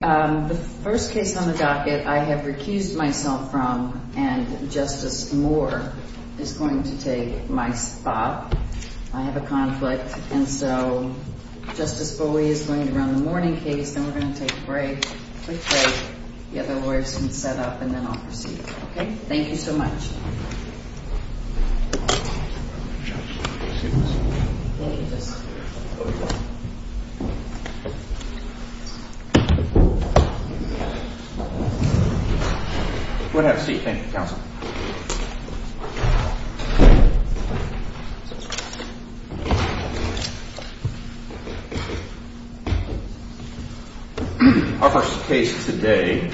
The first case on the docket I have recused myself from, and Justice Moore is going to take my spot. I have a conflict, and so Justice Bowie is going to run the morning case, then we're going to take a quick break, the other lawyers can set up, and then I'll proceed. Okay? Thank you so much. Have a seat. Thank you, Counsel. Our first case today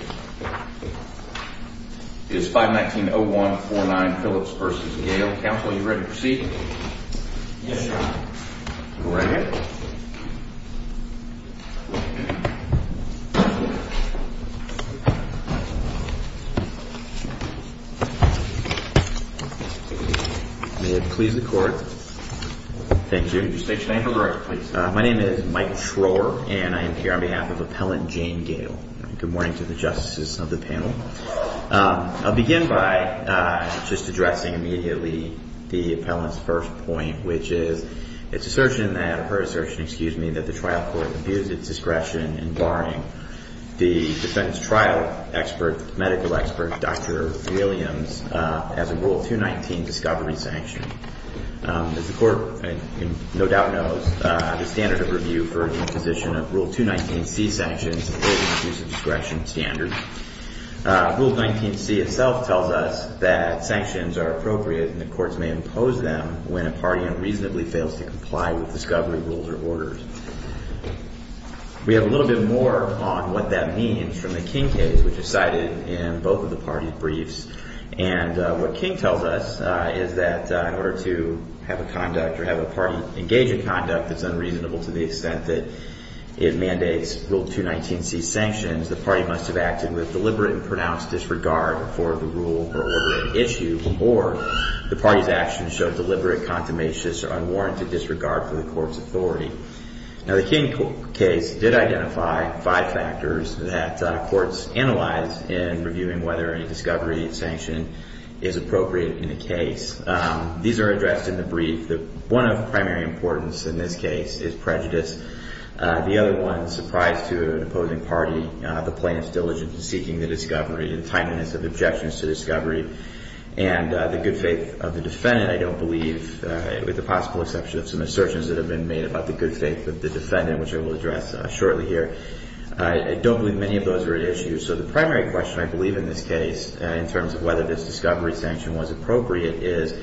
is 519-0149 Phillips v. Gale. Counsel, are you ready to proceed? Yes, Your Honor. Go right ahead. May it please the Court. Thank you. State your name for the record, please. My name is Mike Schroer, and I am here on behalf of Appellant Jane Gale. Good morning to the justices of the panel. I'll begin by just addressing immediately the appellant's first point, which is her assertion that the trial court abused its discretion in barring the defense trial medical expert, Dr. Williams, as a Rule 219 discovery sanction. As the Court no doubt knows, the standard of review for imposition of Rule 219C sanctions is an abuse of discretion standard. Rule 219C itself tells us that sanctions are appropriate and the courts may impose them when a party unreasonably fails to comply with discovery rules or orders. We have a little bit more on what that means from the King case, which is cited in both of the parties' briefs. And what King tells us is that in order to have a conduct or have a party engage in conduct that's unreasonable to the extent that it mandates Rule 219C sanctions, the party must have acted with deliberate and pronounced disregard for the rule or order at issue, or the party's actions showed deliberate, consummation, or unwarranted disregard for the court's authority. Now, the King case did identify five factors that courts analyzed in reviewing whether any discovery sanction is appropriate in the case. These are addressed in the brief. One of the primary importance in this case is prejudice. The other one, surprise to an opposing party, the plaintiff's diligence in seeking the discovery, the timeliness of objections to discovery, and the good faith of the defendant. I don't believe, with the possible exception of some assertions that have been made about the good faith of the defendant, which I will address shortly here, I don't believe many of those are at issue. So the primary question, I believe, in this case, in terms of whether this discovery sanction was appropriate, is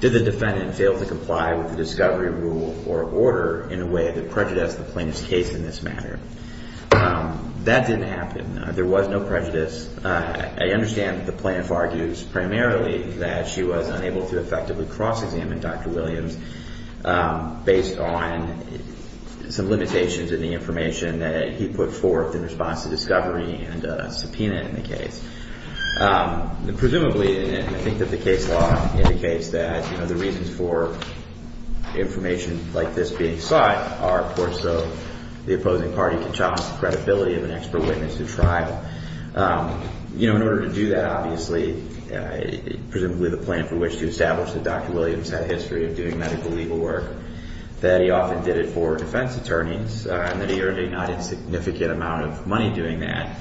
did the defendant fail to comply with the discovery rule or order in a way that prejudiced the plaintiff's case in this matter? That didn't happen. There was no prejudice. I understand that the plaintiff argues primarily that she was unable to effectively cross-examine Dr. Williams based on some limitations in the information that he put forth in response to discovery and subpoena in the case. Presumably, I think that the case law indicates that the reasons for information like this being sought are, of course, so the opposing party can challenge the credibility of an expert witness to trial. In order to do that, obviously, presumably the plan for which to establish that Dr. Williams had a history of doing medical legal work, that he often did it for defense attorneys, and that he earned a not insignificant amount of money doing that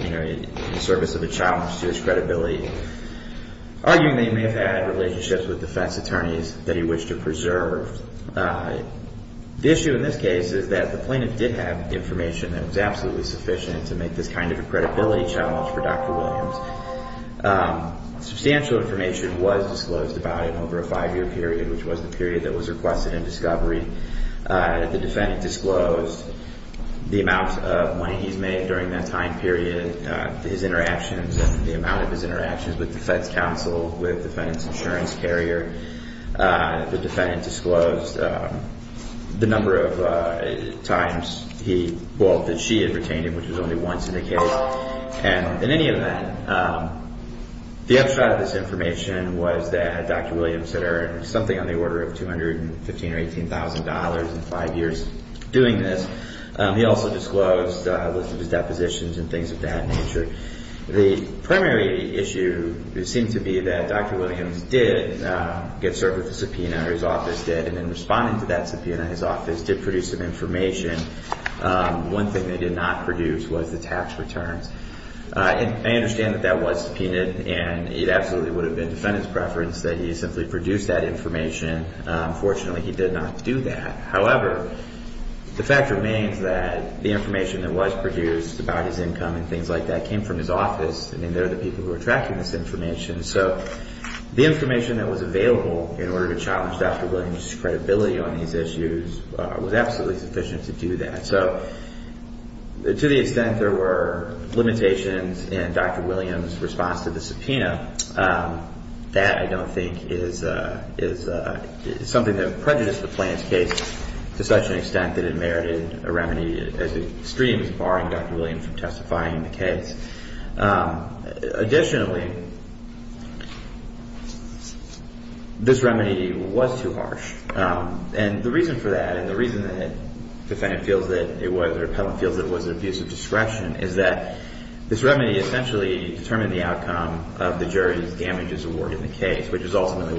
in the service of a challenge to his credibility, arguing that he may have had relationships with defense attorneys that he wished to preserve. The issue in this case is that the plaintiff did have information that was absolutely sufficient to make this kind of a credibility challenge for Dr. Williams. Substantial information was disclosed about him over a five-year period, which was the period that was requested in discovery. The defendant disclosed the amount of money he's made during that time period, his interactions and the amount of his interactions with defense counsel, with defense insurance carrier. The defendant disclosed the number of times he, well, that she had retained him, which was only once in the case. And in any event, the upshot of this information was that Dr. Williams had earned something on the order of $215,000 or $18,000 in five years doing this. He also disclosed a list of his depositions and things of that nature. The primary issue seemed to be that Dr. Williams did get served with a subpoena, or his office did, and in responding to that subpoena, his office did produce some information. One thing they did not produce was the tax returns. I understand that that was subpoenaed, and it absolutely would have been defendant's preference that he simply produce that information. Fortunately, he did not do that. However, the fact remains that the information that was produced about his income and things like that came from his office, and they're the people who are tracking this information. So the information that was available in order to challenge Dr. Williams' credibility on these issues was absolutely sufficient to do that. So to the extent there were limitations in Dr. Williams' response to the subpoena, that I don't think is something that prejudiced the plaintiff's case to such an extent that it merited a remedy as extremes, barring Dr. Williams from testifying in the case. Additionally, this remedy was too harsh. And the reason for that, and the reason that the defendant feels that it was an abuse of discretion, is that this remedy essentially determined the outcome of the jury's damages award in the case, which is ultimately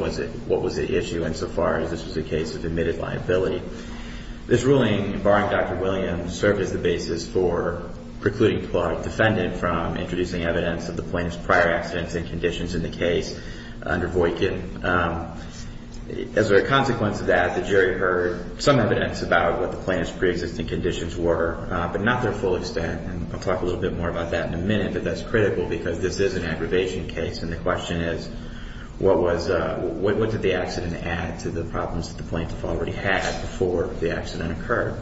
what was at issue insofar as this was a case of admitted liability. This ruling, barring Dr. Williams, served as the basis for precluding the plaintiff's defendant from introducing evidence of the plaintiff's prior accidents and conditions in the case under Voightkin. As a consequence of that, the jury heard some evidence about what the plaintiff's preexisting conditions were, but not their full extent, and I'll talk a little bit more about that in a minute, but that's critical because this is an aggravation case, and the question is, what did the accident add to the problems that the plaintiff already had before the accident occurred?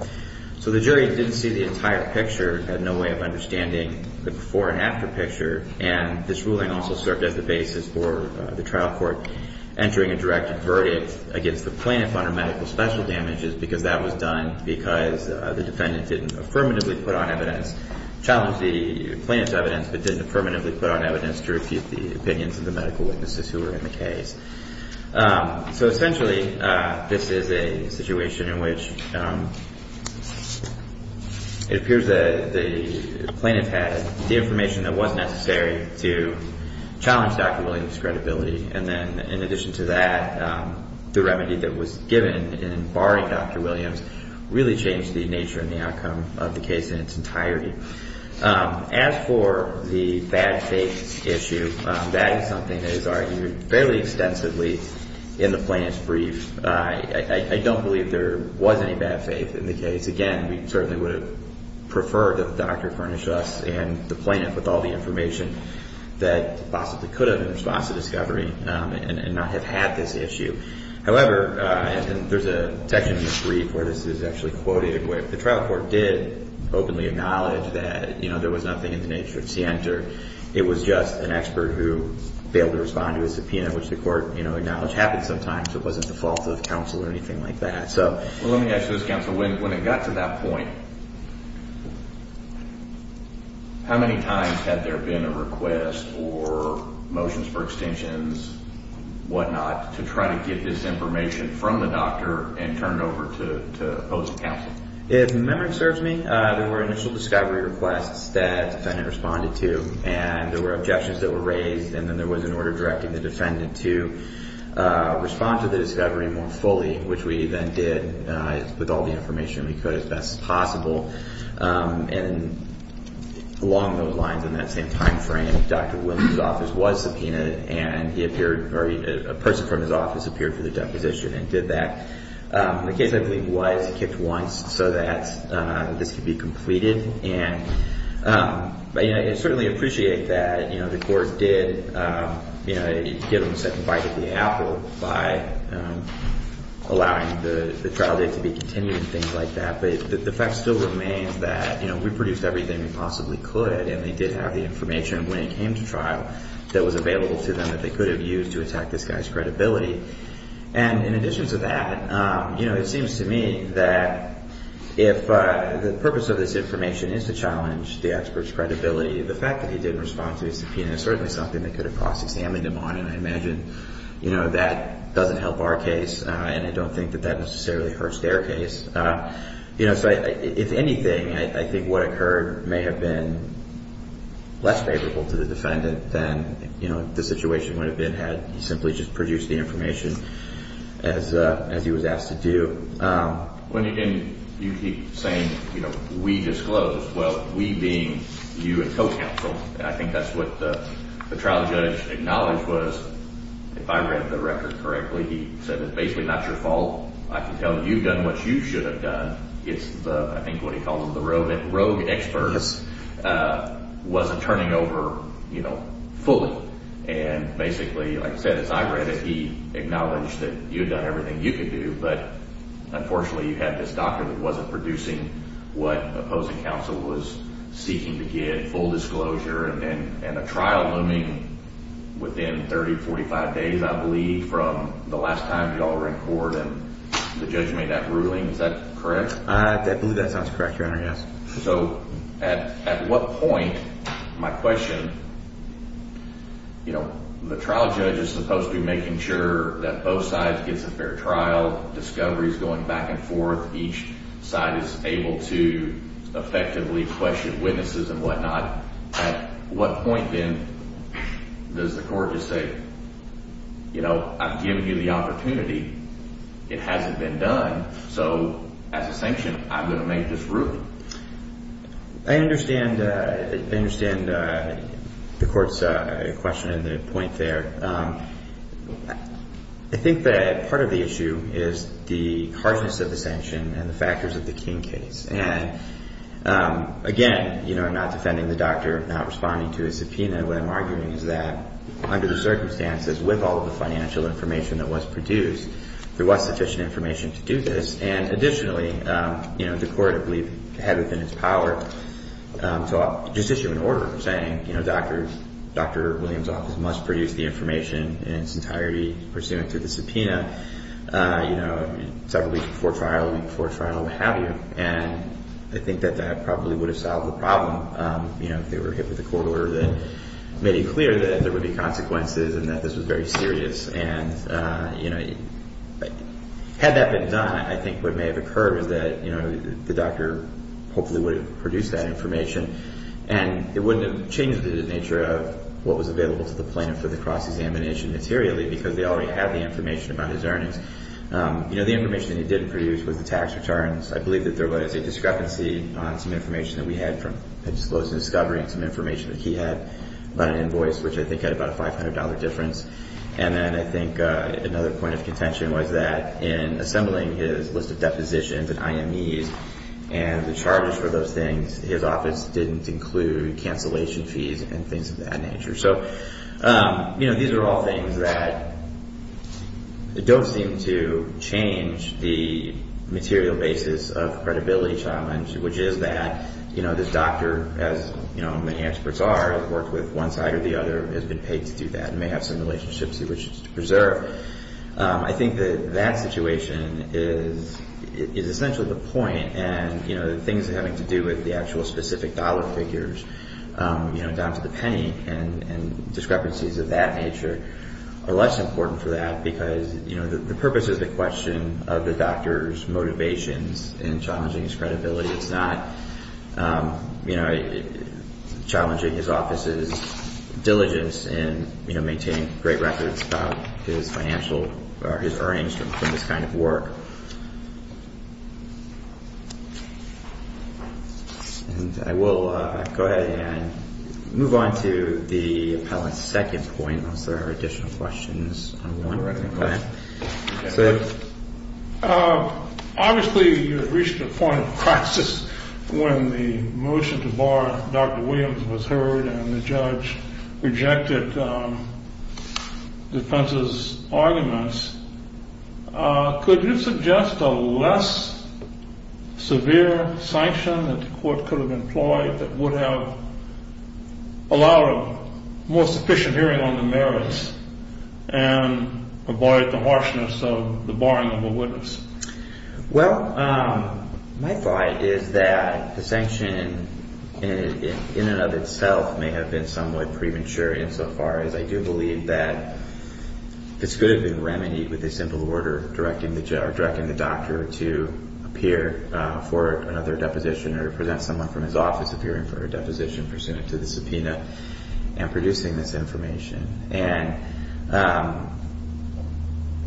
So the jury didn't see the entire picture, had no way of understanding the before and after picture, and this ruling also served as the basis for the trial court entering a direct verdict against the plaintiff under medical special damages because that was done because the defendant didn't affirmatively put on evidence, challenge the plaintiff's evidence, but didn't affirmatively put on evidence to refute the opinions of the medical witnesses who were in the case. So essentially, this is a situation in which it appears that the plaintiff had the information that was necessary to challenge Dr. Williams' credibility, and then in addition to that, the remedy that was given in barring Dr. Williams really changed the nature and the outcome of the case in its entirety. As for the bad faith issue, that is something that is argued fairly extensively in the plaintiff's brief. I don't believe there was any bad faith in the case. Again, we certainly would have preferred that the doctor furnished us and the plaintiff with all the information that possibly could have in response to discovery and not have had this issue. However, there's a section in the brief where this is actually quoted. The trial court did openly acknowledge that there was nothing in the nature of scienter. It was just an expert who failed to respond to a subpoena, which the court acknowledged happened sometimes. It wasn't the fault of counsel or anything like that. Well, let me ask you this, counsel. When it got to that point, how many times had there been a request or motions for extensions, whatnot, to try to get this information from the doctor and turn it over to opposing counsel? If memory serves me, there were initial discovery requests that the defendant responded to, and there were objections that were raised, and then there was an order directing the defendant to respond to the discovery more fully, which we then did with all the information we could as best as possible. And along those lines, in that same time frame, Dr. Williams' office was subpoenaed, and a person from his office appeared for the deposition and did that. The case, I believe, was kicked once so that this could be completed. And I certainly appreciate that the court did get on the second bite of the apple by allowing the trial date to be continued and things like that, but the fact still remains that we produced everything we possibly could, and they did have the information when it came to trial that was available to them that they could have used to attack this guy's credibility. And in addition to that, it seems to me that if the purpose of this information is to challenge the expert's credibility, the fact that he didn't respond to the subpoena is certainly something that could have cross-examined him on, and I imagine that doesn't help our case, and I don't think that that necessarily hurts their case. So if anything, I think what occurred may have been less favorable to the defendant than the situation would have been had he simply just produced the information as he was asked to do. When you keep saying, you know, we disclosed, well, we being you and co-counsel, I think that's what the trial judge acknowledged was if I read the record correctly, he said it's basically not your fault. I can tell you've done what you should have done. It's the, I think what he called them the rogue experts, wasn't turning over, you know, fully. And basically, like I said, as I read it, he acknowledged that you had done everything you could do, but unfortunately you had this doctor that wasn't producing what opposing counsel was seeking to get, full disclosure, and a trial looming within 30, 45 days, I believe, from the last time you all were in court and the judge made that ruling. Is that correct? I believe that sounds correct, Your Honor, yes. So at what point, my question, you know, the trial judge is supposed to be making sure that both sides get a fair trial, discovery is going back and forth, each side is able to effectively question witnesses and whatnot. At what point, then, does the court just say, you know, I've given you the opportunity, it hasn't been done, so as a sanction, I'm going to make this ruling? I understand the court's question and the point there. I think that part of the issue is the harshness of the sanction and the factors of the King case. And again, you know, I'm not defending the doctor, I'm not responding to his subpoena. What I'm arguing is that under the circumstances, with all of the financial information that was produced, there was sufficient information to do this. And additionally, you know, the court, I believe, had within its power to just issue an order saying, you know, Dr. Williams' office must produce the information in its entirety pursuant to the subpoena, you know, several weeks before trial, a week before trial, what have you. And I think that that probably would have solved the problem, you know, if they were hit with a court order that made it clear that there would be consequences and that this was very serious. And, you know, had that been done, I think what may have occurred was that, you know, the doctor hopefully would have produced that information, and it wouldn't have changed the nature of what was available to the plaintiff for the cross-examination materially because they already had the information about his earnings. You know, the information that he didn't produce was the tax returns. I believe that there was a discrepancy on some information that we had from a disclosed discovery and some information that he had about an invoice, which I think had about a $500 difference. And then I think another point of contention was that in assembling his list of depositions and IMEs and the charges for those things, his office didn't include cancellation fees and things of that nature. So, you know, these are all things that don't seem to change the material basis of the credibility challenge, which is that, you know, this doctor, as, you know, many experts are, have worked with one side or the other, has been paid to do that and may have some relationships he wishes to preserve. I think that that situation is essentially the point, and, you know, things having to do with the actual specific dollar figures, you know, down to the penny and discrepancies of that nature are less important for that because, you know, the purpose is the question of the doctor's motivations in challenging his credibility. It's not, you know, challenging his office's diligence in, you know, maintaining great records about his financial or his earnings from this kind of work. And I will go ahead and move on to the appellant's second point unless there are additional questions. Obviously, you reached a point of crisis when the motion to bar Dr. Williams was heard and the judge rejected defense's arguments. Could you suggest a less severe sanction that the court could have employed that would have allowed a more sufficient hearing on the merits? And avoid the harshness of the barring of a witness? Well, my thought is that the sanction in and of itself may have been somewhat premature insofar as I do believe that this could have been remedied with a simple order directing the doctor to appear for another deposition or to present someone from his office appearing for a deposition pursuant to the subpoena and producing this information. And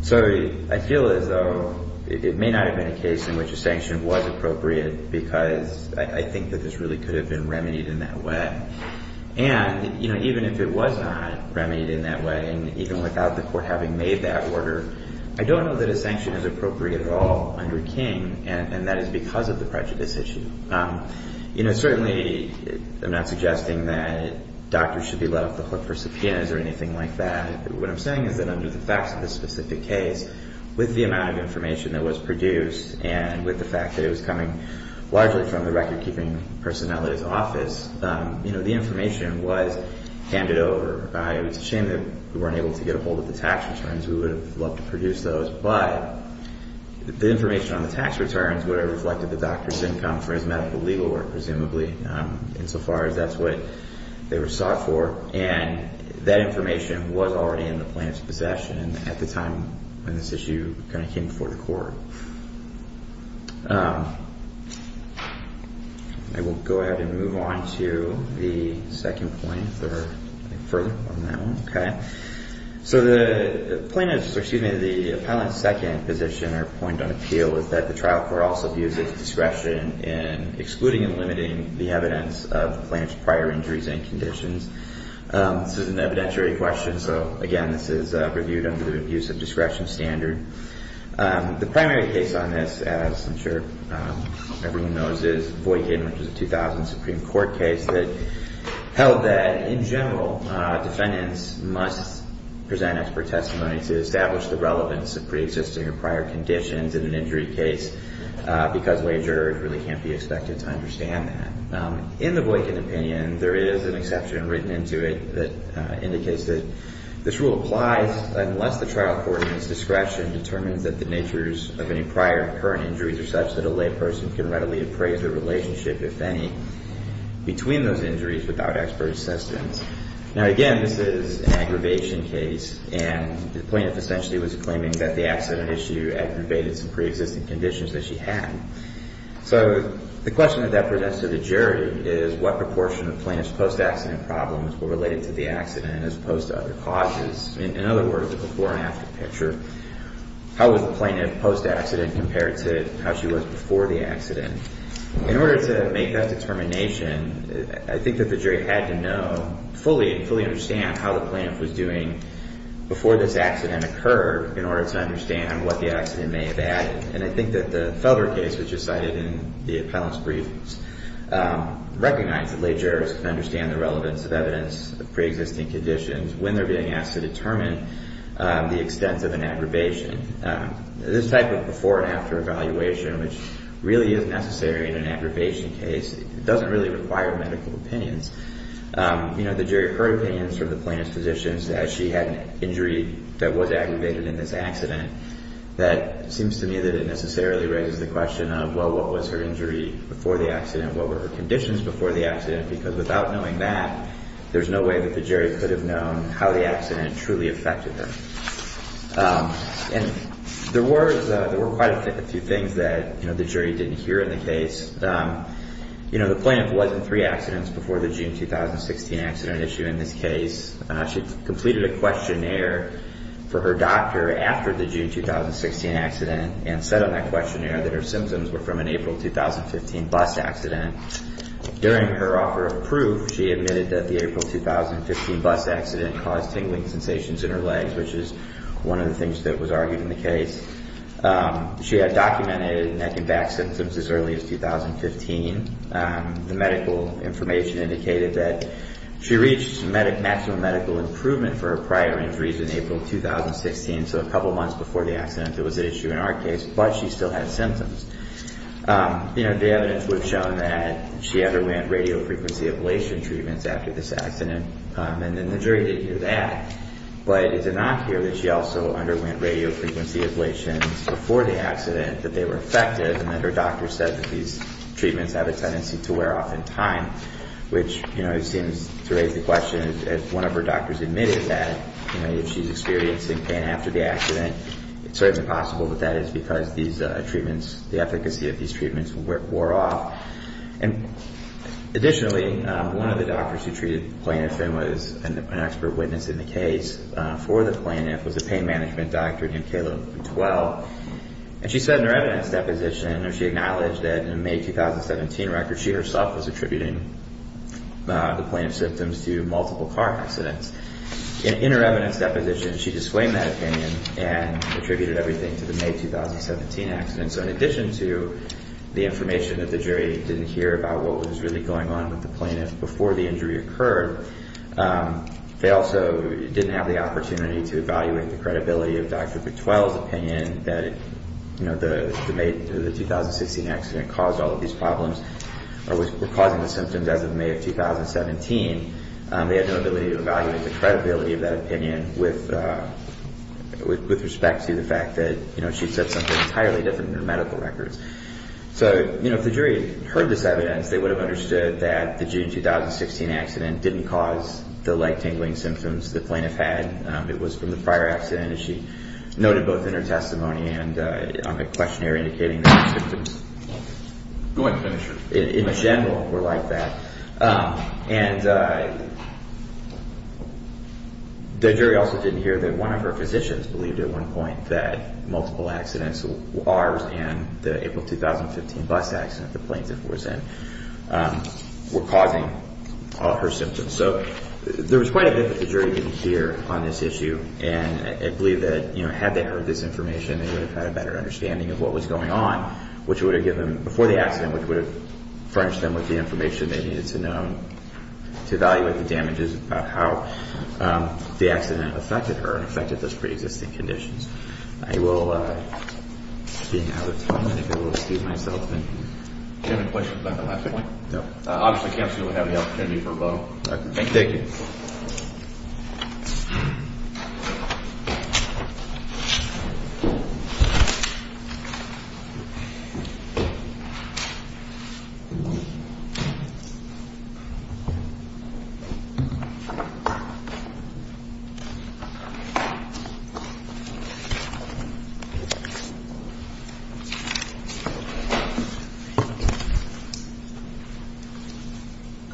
so I feel as though it may not have been a case in which a sanction was appropriate because I think that this really could have been remedied in that way. And, you know, even if it was not remedied in that way and even without the court having made that order, I don't know that a sanction is appropriate at all under King, and that is because of the prejudice issue. You know, certainly I'm not suggesting that doctors should be let off the hook for subpoenas or anything like that. What I'm saying is that under the facts of this specific case, with the amount of information that was produced and with the fact that it was coming largely from the record-keeping personnel at his office, you know, the information was handed over. It's a shame that we weren't able to get ahold of the tax returns. We would have loved to produce those. But the information on the tax returns would have reflected the doctor's income for his medical legal work, presumably, insofar as that's what they were sought for. And that information was already in the plaintiff's possession at the time when this issue kind of came before the court. I will go ahead and move on to the second point if there are further on that one. Okay. So the plaintiff's, or excuse me, the appellant's second position or point on appeal is that the trial court also views its discretion in excluding and limiting the evidence of the plaintiff's prior injuries and conditions. This is an evidentiary question, so, again, this is reviewed under the abuse of discretion standard. The primary case on this, as I'm sure everyone knows, is Voykin, which is a 2000 Supreme Court case that held that, in general, defendants must present expert testimony to establish the relevance of preexisting or prior conditions in an injury case because wagers really can't be expected to understand that. In the Voykin opinion, there is an exception written into it that indicates that this rule applies unless the trial court's discretion determines that the natures of any prior and current injuries are such that a layperson can readily appraise their relationship, if any, between those injuries without expert assistance. Now, again, this is an aggravation case, and the plaintiff essentially was claiming that the accident issue aggravated some preexisting conditions that she had. So the question that that presents to the jury is what proportion of plaintiff's post-accident problems were related to the accident as opposed to other causes. In other words, the before and after picture, how was the plaintiff post-accident compared to how she was before the accident? In order to make that determination, I think that the jury had to know fully and fully understand how the plaintiff was doing before this accident occurred in order to understand what the accident may have added. And I think that the Felder case, which is cited in the appellant's briefs, recognized that lay jurors can understand the relevance of evidence of preexisting conditions when they're being asked to determine the extent of an aggravation. This type of before and after evaluation, which really is necessary in an aggravation case, doesn't really require medical opinions. You know, the jury heard opinions from the plaintiff's physicians that she had an injury that was aggravated in this accident that seems to me that it necessarily raises the question of, well, what was her injury before the accident? What were her conditions before the accident? Because without knowing that, there's no way that the jury could have known how the accident truly affected her. And there were quite a few things that the jury didn't hear in the case. You know, the plaintiff was in three accidents before the June 2016 accident issue in this case. She completed a questionnaire for her doctor after the June 2016 accident and said on that questionnaire that her symptoms were from an April 2015 bus accident. During her offer of proof, she admitted that the April 2015 bus accident caused tingling sensations in her legs, which is one of the things that was argued in the case. She had documented neck and back symptoms as early as 2015. The medical information indicated that she reached maximum medical improvement for her prior injuries in April 2016, so a couple months before the accident that was at issue in our case, but she still had symptoms. You know, the evidence would have shown that she underwent radiofrequency ablation treatments after this accident, and then the jury did hear that. But is it not here that she also underwent radiofrequency ablations before the accident that they were effective and that her doctor said that these treatments have a tendency to wear off in time, which, you know, seems to raise the question as one of her doctors admitted that, you know, if she's experiencing pain after the accident, it's certainly possible that that is because these treatments, the efficacy of these treatments wore off. And additionally, one of the doctors who treated the plaintiff and was an expert witness in the case for the plaintiff was a pain management doctor named Caleb Twell, and she said in her evidence deposition or she acknowledged that in a May 2017 record she herself was attributing the plaintiff's symptoms to multiple car accidents. In her evidence deposition, she disclaimed that opinion and attributed everything to the May 2017 accident. And so in addition to the information that the jury didn't hear about what was really going on with the plaintiff before the injury occurred, they also didn't have the opportunity to evaluate the credibility of Dr. Twell's opinion that, you know, the May 2016 accident caused all of these problems or was causing the symptoms as of May of 2017. They had no ability to evaluate the credibility of that opinion with respect to the fact that, you know, she said something entirely different in her medical records. So, you know, if the jury had heard this evidence, they would have understood that the June 2016 accident didn't cause the leg-tingling symptoms the plaintiff had. It was from the prior accident, as she noted both in her testimony and on the questionnaire indicating the symptoms. Go ahead and finish. In general, were like that. And the jury also didn't hear that one of her physicians believed at one point that multiple accidents, ours and the April 2015 bus accident the plaintiff was in, were causing her symptoms. So there was quite a bit that the jury didn't hear on this issue. And I believe that, you know, had they heard this information, they would have had a better understanding of what was going on, which would have given them, before the accident, which would have furnished them with the information they needed to know to evaluate the damages about how the accident affected her and affected those pre-existing conditions. I will, being out of time, I think I will excuse myself. Do you have any questions about the last point? No. Obviously, counsel will have the opportunity for a vote. Thank you. Thank you.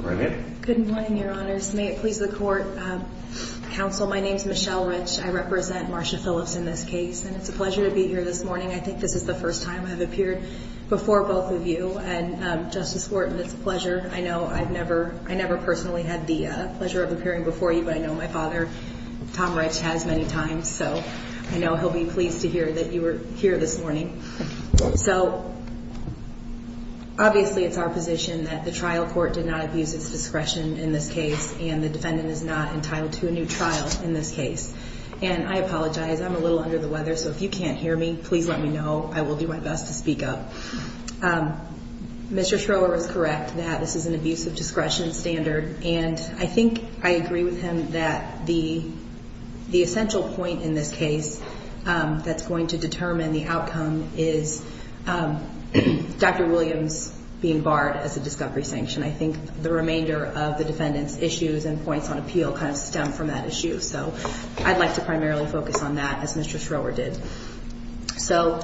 Good morning. Good morning, Your Honors. May it please the Court. Counsel, my name is Michelle Rich. I represent Marsha Phillips in this case. And it's a pleasure to be here this morning. I think this is the first time I've appeared before both of you. And, Justice Wharton, it's a pleasure. I know I've never, I never personally had the pleasure of appearing before you. But I know my father, Tom Rich, has many times. So I know he'll be pleased to hear that you were here this morning. So, obviously, it's our position that the trial court did not abuse its discretion in this case. And the defendant is not entitled to a new trial in this case. And I apologize. I'm a little under the weather. So if you can't hear me, please let me know. I will do my best to speak up. Mr. Schroer is correct that this is an abuse of discretion standard. And I think I agree with him that the essential point in this case that's going to determine the outcome is Dr. Williams being barred as a discovery sanction. I think the remainder of the defendant's issues and points on appeal kind of stem from that issue. So I'd like to primarily focus on that, as Mr. Schroer did. So,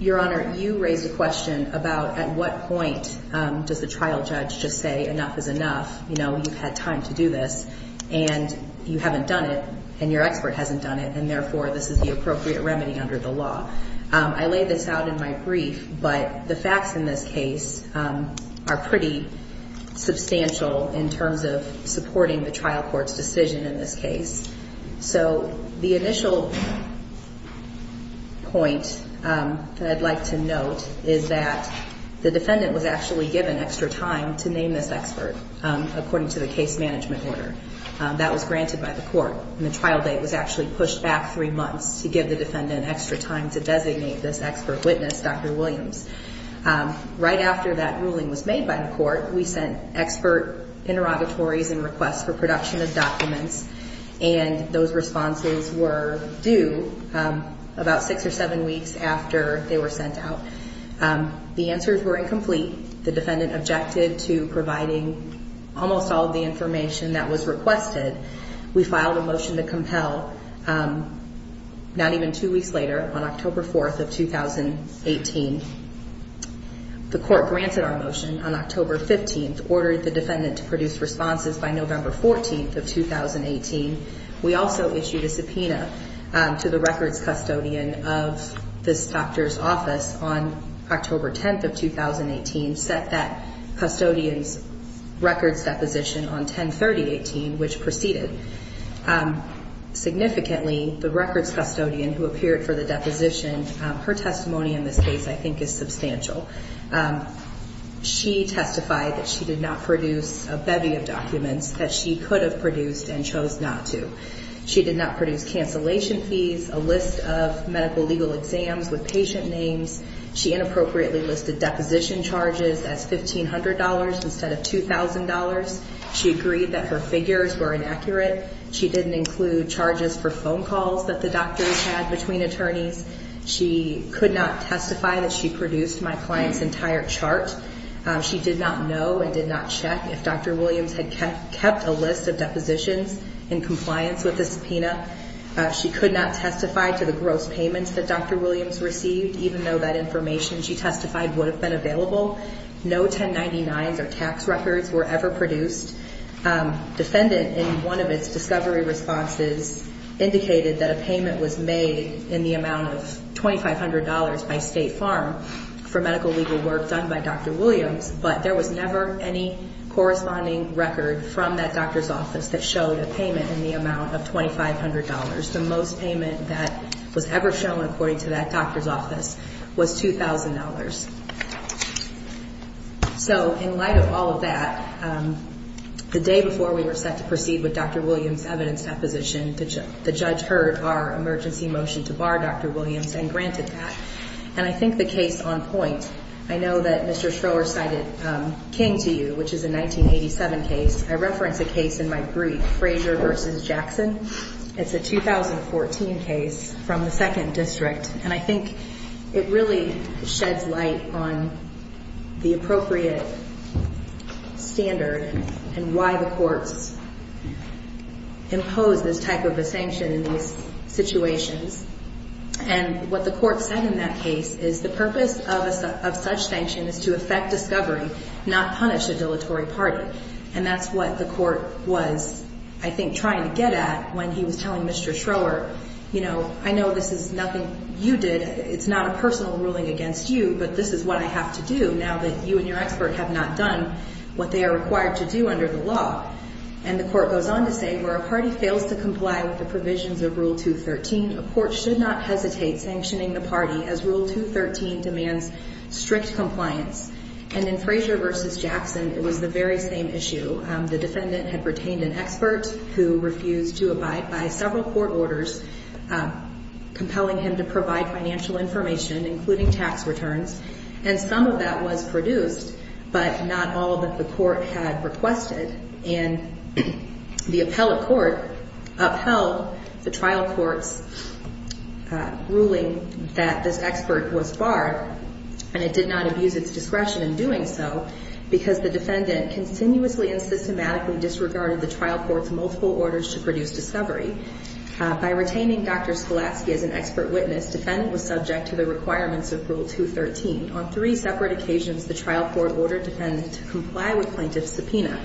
Your Honor, you raised a question about at what point does the trial judge just say enough is enough. You know, you've had time to do this. And you haven't done it. And your expert hasn't done it. And, therefore, this is the appropriate remedy under the law. I laid this out in my brief. But the facts in this case are pretty substantial in terms of supporting the trial court's decision in this case. So the initial point that I'd like to note is that the defendant was actually given extra time to name this expert, according to the case management order. That was granted by the court. And the trial date was actually pushed back three months to give the defendant extra time to designate this expert witness, Dr. Williams. Right after that ruling was made by the court, we sent expert interrogatories and requests for production of documents. And those responses were due about six or seven weeks after they were sent out. The answers were incomplete. The defendant objected to providing almost all of the information that was requested. We filed a motion to compel not even two weeks later, on October 4th of 2018. The court granted our motion on October 15th, ordered the defendant to produce responses by November 14th of 2018. We also issued a subpoena to the records custodian of this doctor's office on October 10th of 2018, set that custodian's records deposition on 10-30-18, which proceeded. Significantly, the records custodian who appeared for the deposition, her testimony in this case I think is substantial. She testified that she did not produce a bevy of documents that she could have produced and chose not to. She did not produce cancellation fees, a list of medical legal exams with patient names. She inappropriately listed deposition charges as $1,500 instead of $2,000. She agreed that her figures were inaccurate. She didn't include charges for phone calls that the doctors had between attorneys. She could not testify that she produced my client's entire chart. She did not know and did not check if Dr. Williams had kept a list of depositions in compliance with the subpoena. She could not testify to the gross payments that Dr. Williams received, even though that information she testified would have been available. No 1099s or tax records were ever produced. Defendant in one of its discovery responses indicated that a payment was made in the amount of $2,500 by State Farm for medical legal work done by Dr. Williams, but there was never any corresponding record from that doctor's office that showed a payment in the amount of $2,500. The most payment that was ever shown, according to that doctor's office, was $2,000. So in light of all of that, the day before we were set to proceed with Dr. Williams' evidence deposition, the judge heard our emergency motion to bar Dr. Williams and granted that. And I think the case on point, I know that Mr. Schroer cited King to you, which is a 1987 case. I referenced a case in my brief, Frazier v. Jackson. It's a 2014 case from the 2nd District, and I think it really sheds light on the appropriate standard and why the courts impose this type of a sanction in these situations. And what the court said in that case is the purpose of such sanction is to affect discovery, not punish a dilatory party. And that's what the court was, I think, trying to get at when he was telling Mr. Schroer, you know, I know this is nothing you did. It's not a personal ruling against you, but this is what I have to do now that you and your expert have not done what they are required to do under the law. And the court goes on to say where a party fails to comply with the provisions of Rule 213, a court should not hesitate sanctioning the party as Rule 213 demands strict compliance. And in Frazier v. Jackson, it was the very same issue. The defendant had retained an expert who refused to abide by several court orders compelling him to provide financial information, including tax returns, and some of that was produced, but not all that the court had requested. And the appellate court upheld the trial court's ruling that this expert was barred, and it did not abuse its discretion in doing so because the defendant continuously and systematically disregarded the trial court's multiple orders to produce discovery. By retaining Dr. Scholaski as an expert witness, the defendant was subject to the requirements of Rule 213. On three separate occasions, the trial court ordered the defendant to comply with plaintiff's subpoena.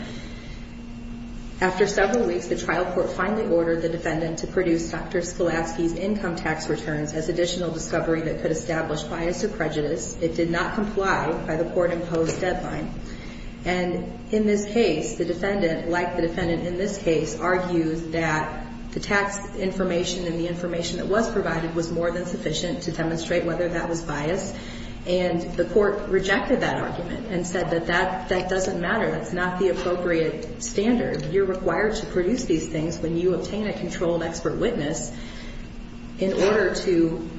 After several weeks, the trial court finally ordered the defendant to produce Dr. Scholaski's income tax returns as additional discovery that could establish bias or prejudice. It did not comply by the court-imposed deadline. And in this case, the defendant, like the defendant in this case, argues that the tax information and the information that was provided was more than sufficient to demonstrate whether that was biased. And the court rejected that argument and said that that doesn't matter. That's not the appropriate standard. You're required to produce these things when you obtain a controlled expert witness in order to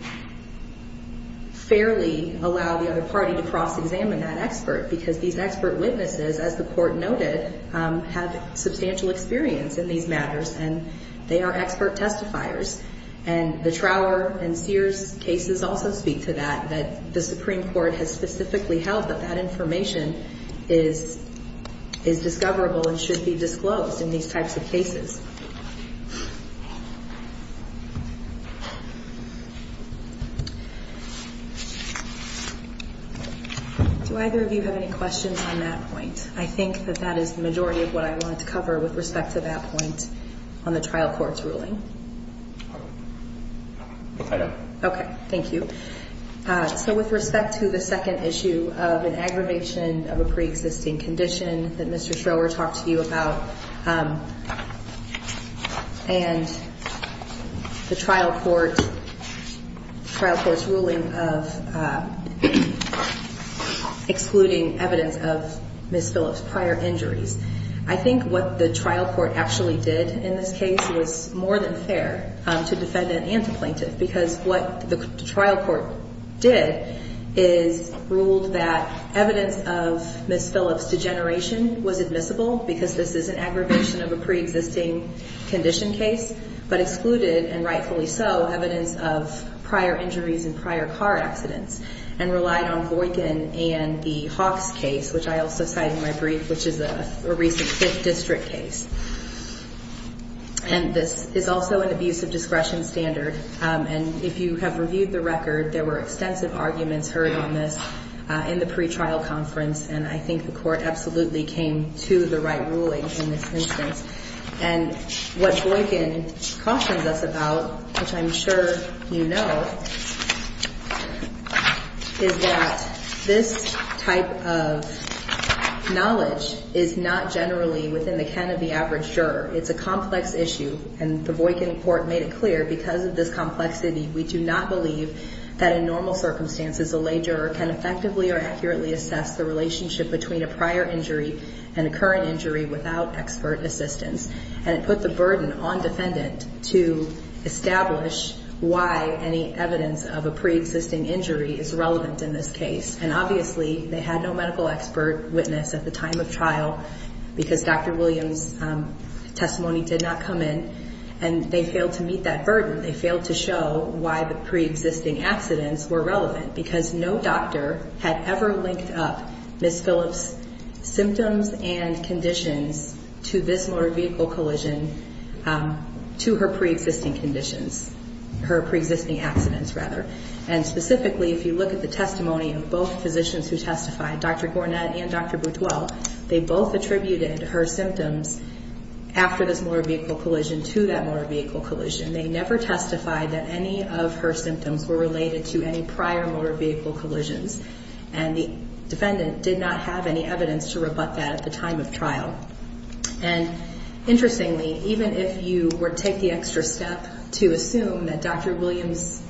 fairly allow the other party to cross-examine that expert because these expert witnesses, as the court noted, have substantial experience in these matters and they are expert testifiers. And the Trower and Sears cases also speak to that, that the Supreme Court has specifically held that that information is discoverable and should be disclosed in these types of cases. Do either of you have any questions on that point? I think that that is the majority of what I wanted to cover with respect to that point on the trial court's ruling. I don't. Okay. Thank you. So with respect to the second issue of an aggravation of a preexisting condition that Mr. Trower talked to you about, and the trial court's ruling of excluding evidence of Ms. Phillips' prior injuries, I think what the trial court actually did in this case was more than fair to defendant and to plaintiff because what the trial court did is ruled that evidence of Ms. Phillips' degeneration was admissible because this is an aggravation of a preexisting condition case, but excluded, and rightfully so, evidence of prior injuries and prior car accidents and relied on Boykin and the Hawks case, which I also cite in my brief, which is a recent Fifth District case. And this is also an abuse of discretion standard. And if you have reviewed the record, there were extensive arguments heard on this in the pretrial conference, and I think the court absolutely came to the right ruling in this instance. And what Boykin cautions us about, which I'm sure you know, is that this type of knowledge is not generally within the can of the average juror. It's a complex issue, and the Boykin court made it clear because of this complexity, we do not believe that in normal circumstances a lay juror can effectively or accurately assess the relationship between a prior injury and a current injury without expert assistance. And it put the burden on defendant to establish why any evidence of a preexisting injury is relevant in this case. And obviously, they had no medical expert witness at the time of trial because Dr. Williams' testimony did not come in, and they failed to meet that burden, they failed to show why the preexisting accidents were relevant, because no doctor had ever linked up Ms. Phillips' symptoms and conditions to this motor vehicle collision to her preexisting conditions, her preexisting accidents, rather. And specifically, if you look at the testimony of both physicians who testified, Dr. Gornett and Dr. Butuel, they both attributed her symptoms after this motor vehicle collision to that motor vehicle collision. They never testified that any of her symptoms were related to any prior motor vehicle collisions, and the defendant did not have any evidence to rebut that at the time of trial. And interestingly, even if you were to take the extra step to assume that Dr. Williams'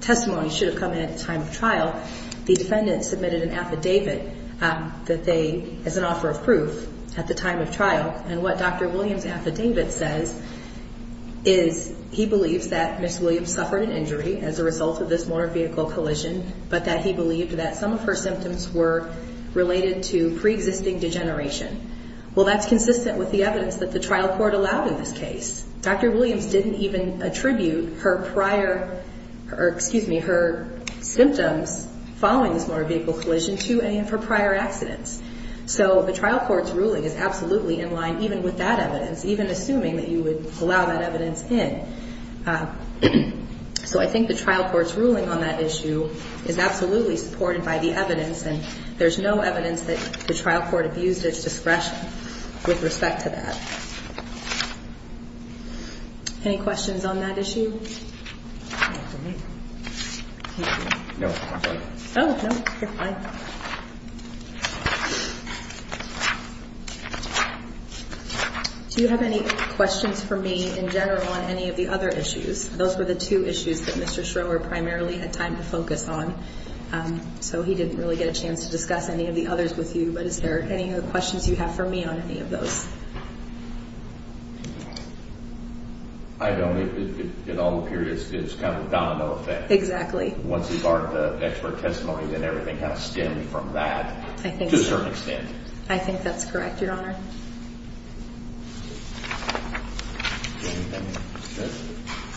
testimony should have come in at the time of trial, the defendant submitted an affidavit as an offer of proof at the time of trial, and what Dr. Williams' affidavit says is he believes that Ms. Williams suffered an injury as a result of this motor vehicle collision, but that he believed that some of her symptoms were related to preexisting degeneration. Well, that's consistent with the evidence that the trial court allowed in this case. Dr. Williams didn't even attribute her prior or, excuse me, her symptoms following this motor vehicle collision to any of her prior accidents. So the trial court's ruling is absolutely in line even with that evidence, even assuming that you would allow that evidence in. So I think the trial court's ruling on that issue is absolutely supported by the evidence, and there's no evidence that the trial court abused its discretion with respect to that. Any questions on that issue? Do you have any questions for me in general on any of the other issues? Those were the two issues that Mr. Schroer primarily had time to focus on, so he didn't really get a chance to discuss any of the others with you, but is there any other questions you have for me on any of those? I don't. In all periods, it's kind of a domino effect. Exactly. Once you've barred the expert testimony, then everything kind of stemmed from that to a certain extent. I think that's correct, Your Honor.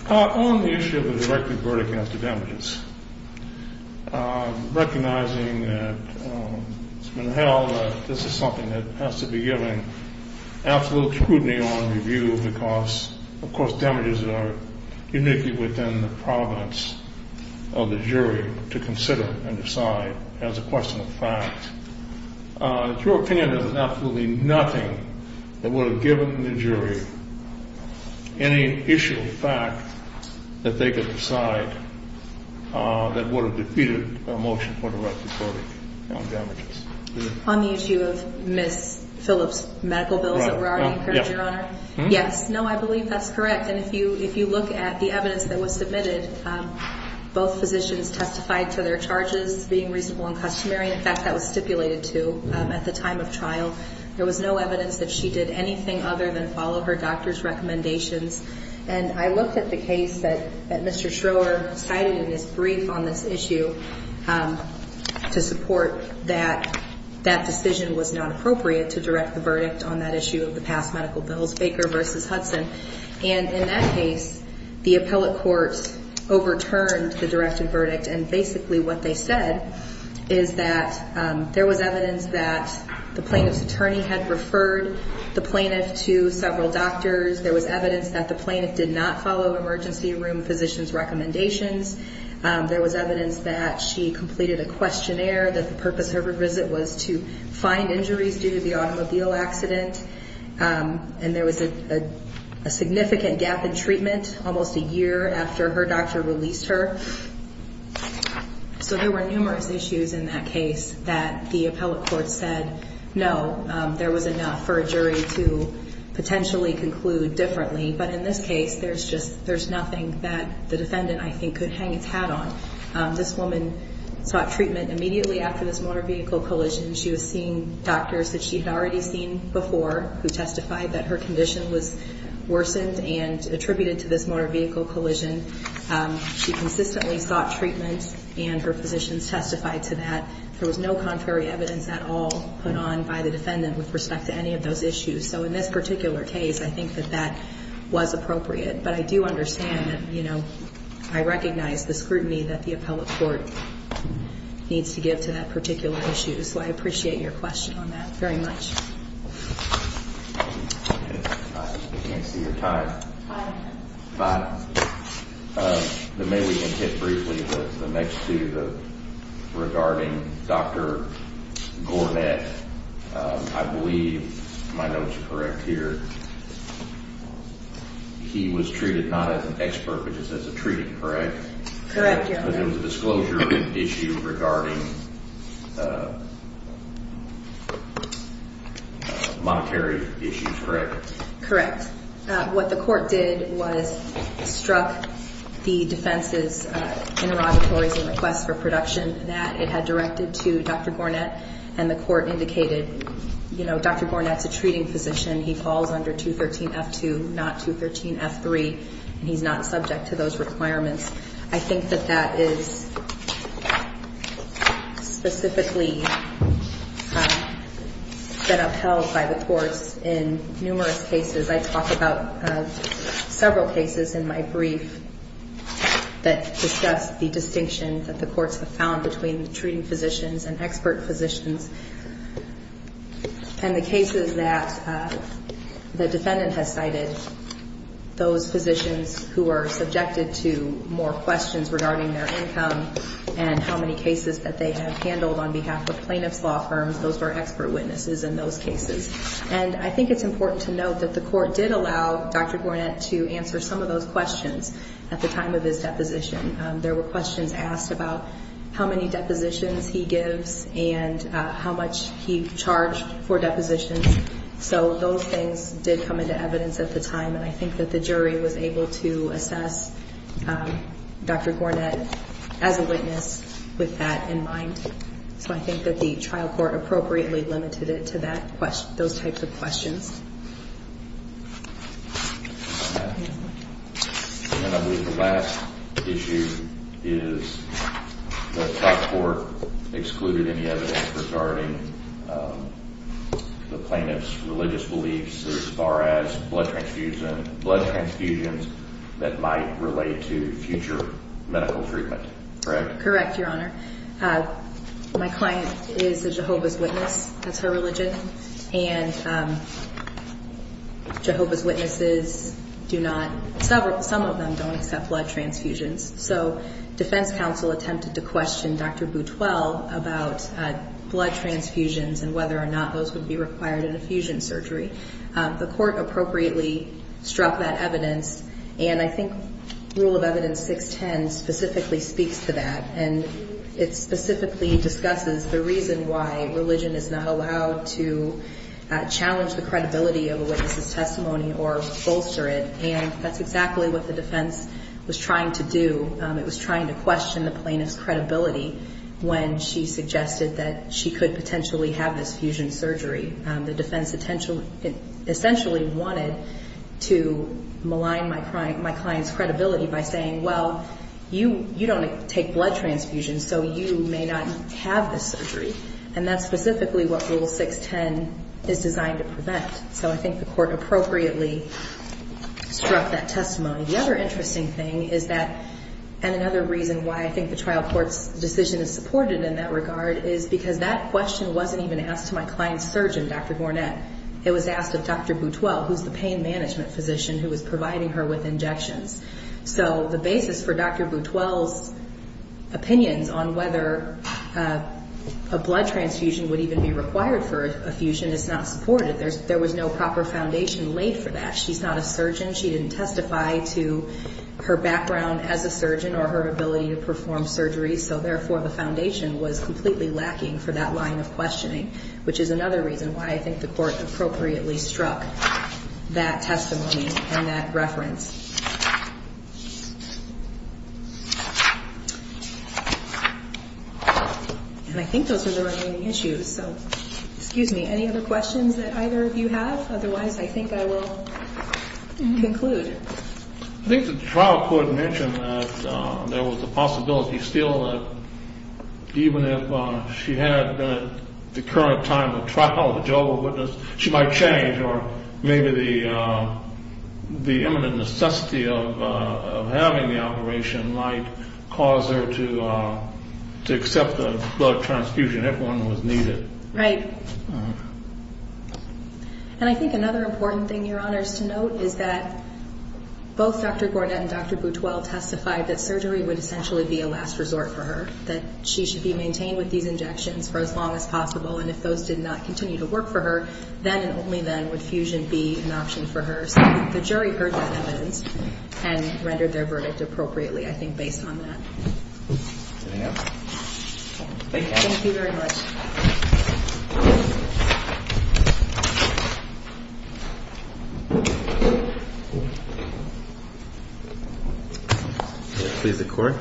On the issue of the directed verdict against the damages, recognizing that it's been held that this is something that has to be given absolute scrutiny on review because, of course, damages are uniquely within the province of the jury to consider and decide as a question of fact. In your opinion, there's absolutely nothing that would have given the jury any issue of fact that they could decide that would have defeated a motion for directed verdict on damages. On the issue of Ms. Phillips' medical bills that were already incurred, Your Honor? Yes. No, I believe that's correct, and if you look at the evidence that was submitted, both physicians testified to their charges being reasonable and customary. In fact, that was stipulated to at the time of trial. There was no evidence that she did anything other than follow her doctor's recommendations, and I looked at the case that Mr. Schroer cited in his brief on this issue to support that that decision was not appropriate to direct the verdict on that issue of the past medical bills, Baker v. Hudson. And in that case, the appellate courts overturned the directed verdict, and basically what they said is that there was evidence that the plaintiff's attorney had referred the plaintiff to several doctors. There was evidence that the plaintiff did not follow emergency room physicians' recommendations. There was evidence that she completed a questionnaire, that the purpose of her visit was to find injuries due to the automobile accident, and there was a significant gap in treatment almost a year after her doctor released her. So there were numerous issues in that case that the appellate courts said, no, there was enough for a jury to potentially conclude differently, but in this case, there's nothing that the defendant, I think, could hang its hat on. This woman sought treatment immediately after this motor vehicle collision. She was seeing doctors that she had already seen before who testified that her condition was worsened and attributed to this motor vehicle collision. She consistently sought treatment, and her physicians testified to that. There was no contrary evidence at all put on by the defendant with respect to any of those issues. So in this particular case, I think that that was appropriate. But I do understand that, you know, I recognize the scrutiny that the appellate court needs to give to that particular issue. So I appreciate your question on that very much. I can't see your time. If I may, we can hit briefly the next two, regarding Dr. Gornett. I believe my notes are correct here. He was treated not as an expert, but just as a treating, correct? Correct, Your Honor. But it was a disclosure issue regarding monetary issues, correct? Correct. What the court did was struck the defense's interrogatories and requests for production. That it had directed to Dr. Gornett, and the court indicated, you know, Dr. Gornett's a treating physician. He falls under 213F2, not 213F3, and he's not subject to those requirements. I think that that is specifically been upheld by the courts in numerous cases. I talk about several cases in my brief that discuss the distinction that the courts have found between treating physicians and expert physicians. And the cases that the defendant has cited, those physicians who are subjected to more questions regarding their income, and how many cases that they have handled on behalf of plaintiff's law firms, those were expert witnesses in those cases. And I think it's important to note that the court did allow Dr. Gornett to answer some of those questions at the time of his deposition. There were questions asked about how many depositions he gives and how much he charged for depositions. So those things did come into evidence at the time, and I think that the jury was able to assess Dr. Gornett as a witness with that in mind. So I think that the trial court appropriately limited it to those types of questions. And I believe the last issue is that trial court excluded any evidence regarding the plaintiff's religious beliefs as far as blood transfusions that might relate to future medical treatment, correct? Correct, Your Honor. My client is a Jehovah's Witness. That's her religion. And Jehovah's Witnesses do not – some of them don't accept blood transfusions. So defense counsel attempted to question Dr. Butuel about blood transfusions and whether or not those would be required in a fusion surgery. The court appropriately struck that evidence, and I think Rule of Evidence 610 specifically speaks to that. And it specifically discusses the reason why religion is not allowed to challenge the credibility of a witness's testimony or bolster it. And that's exactly what the defense was trying to do. It was trying to question the plaintiff's credibility when she suggested that she could potentially have this fusion surgery. The defense essentially wanted to malign my client's credibility by saying, well, you don't take blood transfusions. So you may not have this surgery. And that's specifically what Rule 610 is designed to prevent. So I think the court appropriately struck that testimony. The other interesting thing is that – and another reason why I think the trial court's decision is supported in that regard is because that question wasn't even asked to my client's surgeon, Dr. Gornett. It was asked of Dr. Butuel, who's the pain management physician who was providing her with injections. So the basis for Dr. Butuel's opinions on whether a blood transfusion would even be required for a fusion is not supported. There was no proper foundation laid for that. She's not a surgeon. She didn't testify to her background as a surgeon or her ability to perform surgery. So, therefore, the foundation was completely lacking for that line of questioning, which is another reason why I think the court appropriately struck that testimony and that reference. And I think those are the remaining issues. So, excuse me, any other questions that either of you have? Otherwise, I think I will conclude. I think the trial court mentioned that there was a possibility still that even if she had the current time of trial, the job of witness, she might change. Or maybe the imminent necessity of having the operation might cause her to accept a blood transfusion if one was needed. Right. And I think another important thing, Your Honors, to note is that both Dr. Gornett and Dr. Butuel testified that surgery would essentially be a last resort for her. That she should be maintained with these injections for as long as possible, and if those did not continue to work for her, then and only then would fusion be an option for her. So the jury heard that evidence and rendered their verdict appropriately, I think, based on that. Anything else? Thank you. Thank you very much. Please, the court.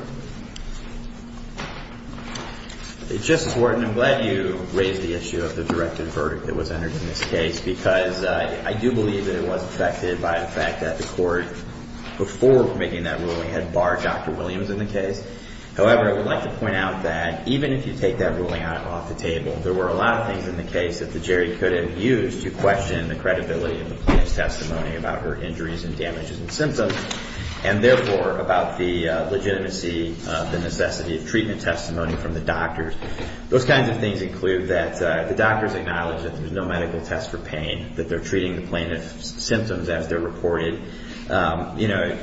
Justice Wharton, I'm glad you raised the issue of the directed verdict that was entered in this case because I do believe that it was affected by the fact that the court, before making that ruling, had barred Dr. Williams in the case. However, I would like to point out that even if you take that ruling off the table, there were a lot of things in the case that the jury could have used to question the credibility of the plaintiff's testimony about her injuries and damages and symptoms, and therefore about the legitimacy of the necessity of treatment testimony from the doctors. Those kinds of things include that the doctors acknowledge that there's no medical test for pain, that they're treating the plaintiff's symptoms as they're reported. You know,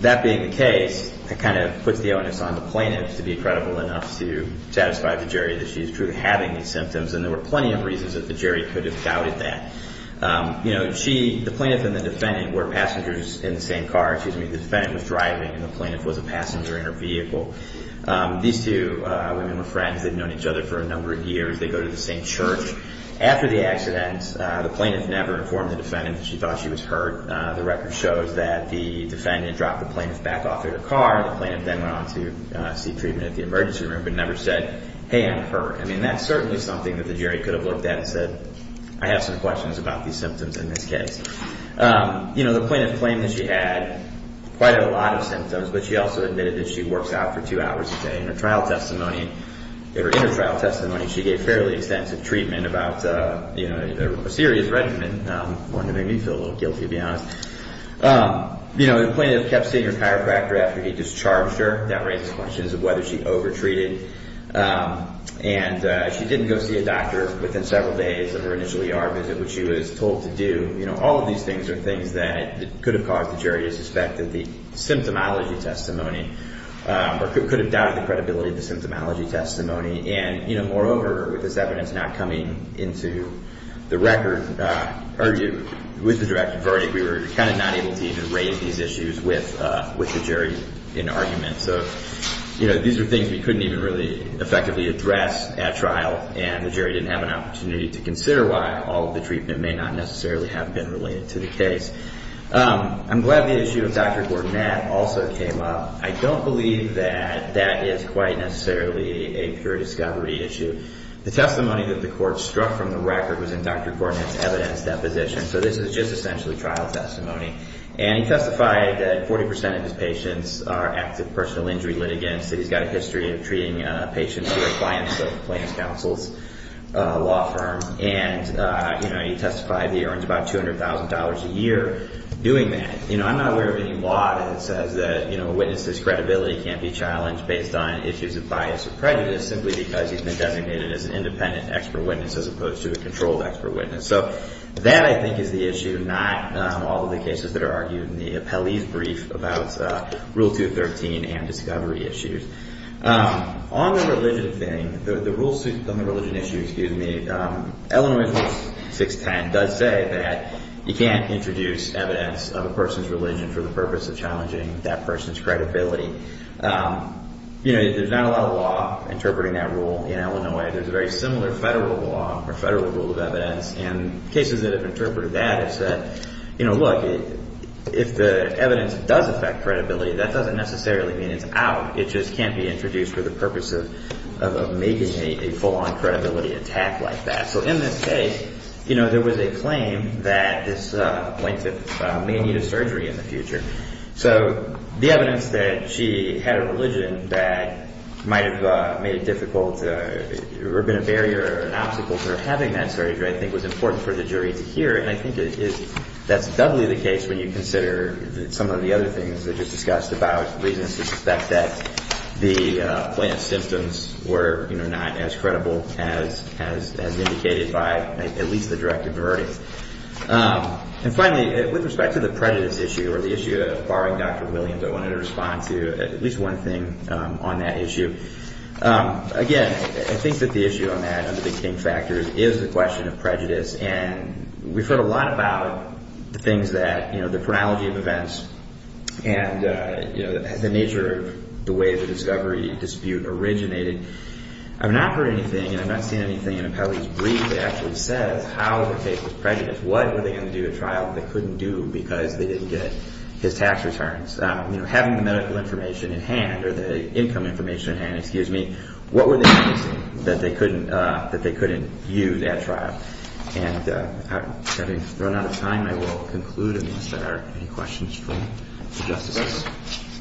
that being the case, that kind of puts the onus on the plaintiff to be credible enough to satisfy the jury that she's truly having these symptoms, and there were plenty of reasons that the jury could have doubted that. You know, she, the plaintiff and the defendant were passengers in the same car, excuse me, the defendant was driving and the plaintiff was a passenger in her vehicle. These two women were friends. They'd known each other for a number of years. They go to the same church. After the accident, the plaintiff never informed the defendant that she thought she was hurt. The record shows that the defendant dropped the plaintiff back off their car, the plaintiff then went on to seek treatment at the emergency room, but never said, hey, I'm hurt. I mean, that's certainly something that the jury could have looked at and said, I have some questions about these symptoms in this case. You know, the plaintiff claimed that she had quite a lot of symptoms, but she also admitted that she works out for two hours a day. In her trial testimony, in her trial testimony, she gave fairly extensive treatment about, you know, a serious regimen, one that made me feel a little guilty, to be honest. You know, the plaintiff kept seeing her chiropractor after he discharged her. That raises questions of whether she over-treated. And she didn't go see a doctor within several days of her initial ER visit, which she was told to do. You know, all of these things are things that could have caused the jury to suspect that the symptomology testimony, or could have doubted the credibility of the symptomology testimony. And, you know, moreover, with this evidence not coming into the record, or with the direct verdict, we were kind of not able to even raise these issues with the jury in argument. So, you know, these are things we couldn't even really effectively address at trial, and the jury didn't have an opportunity to consider why all of the treatment may not necessarily have the credibility. I'm glad the issue of Dr. Gornett also came up. I don't believe that that is quite necessarily a pure discovery issue. The testimony that the court struck from the record was in Dr. Gornett's evidence deposition, so this is just essentially trial testimony. And he testified that 40% of his patients are active personal injury litigants, that he's got a history of treating patients who are clients of Plaintiff's Counsel's law firm. And, you know, he testified he earns about $200,000 a year doing that. You know, I'm not aware of any law that says that, you know, a witness's credibility can't be challenged based on issues of bias or prejudice simply because he's been designated as an independent expert witness as opposed to a controlled expert witness. So that, I think, is the issue, not all of the cases that are argued in the appellee's brief about Rule 213 and discovery issues. On the religion thing, on the religion issue, excuse me, Illinois 610 does say that you can't introduce evidence of a person's religion for the purpose of challenging that person's credibility. You know, there's not a lot of law interpreting that rule in Illinois. There's a very similar federal law or federal rule of evidence, and cases that have interpreted that have said, you know, look, if the evidence does affect credibility, that doesn't necessarily mean it's out. It just can't be introduced for the purpose of making a full-on credibility attack like that. So in this case, you know, there was a claim that this plaintiff may need a surgery in the future. So the evidence that she had a religion that might have made it difficult or been a barrier or an obstacle to her having that surgery, I think, was important for the jury to hear. And I think that's doubly the case when you consider some of the other things that you've discussed about reasons to suspect that the plaintiff's symptoms were, you know, not as credible as indicated by at least the direct averting. And finally, with respect to the prejudice issue or the issue of barring Dr. Williams, I wanted to respond to at least one thing on that issue. Again, I think that the issue on that under the King factors is the question of prejudice. And we've heard a lot about the things that, you know, the chronology of events and, you know, the nature of the way the discovery dispute originated. I've not heard anything and I've not seen anything in Apelli's brief that actually says how the case was prejudiced. What were they going to do at trial that they couldn't do because they didn't get his tax returns? And, excuse me, what were the things that they couldn't use at trial? And having run out of time, I will conclude unless there are any questions from the justices.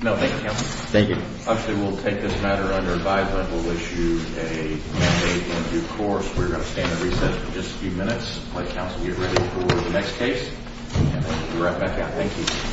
No, thank you, counsel. Thank you. Actually, we'll take this matter under advisement. We'll issue a mandate in due course. We're going to stand at recess for just a few minutes. Please, counsel, get ready for the next case. We'll be right back out. Thank you.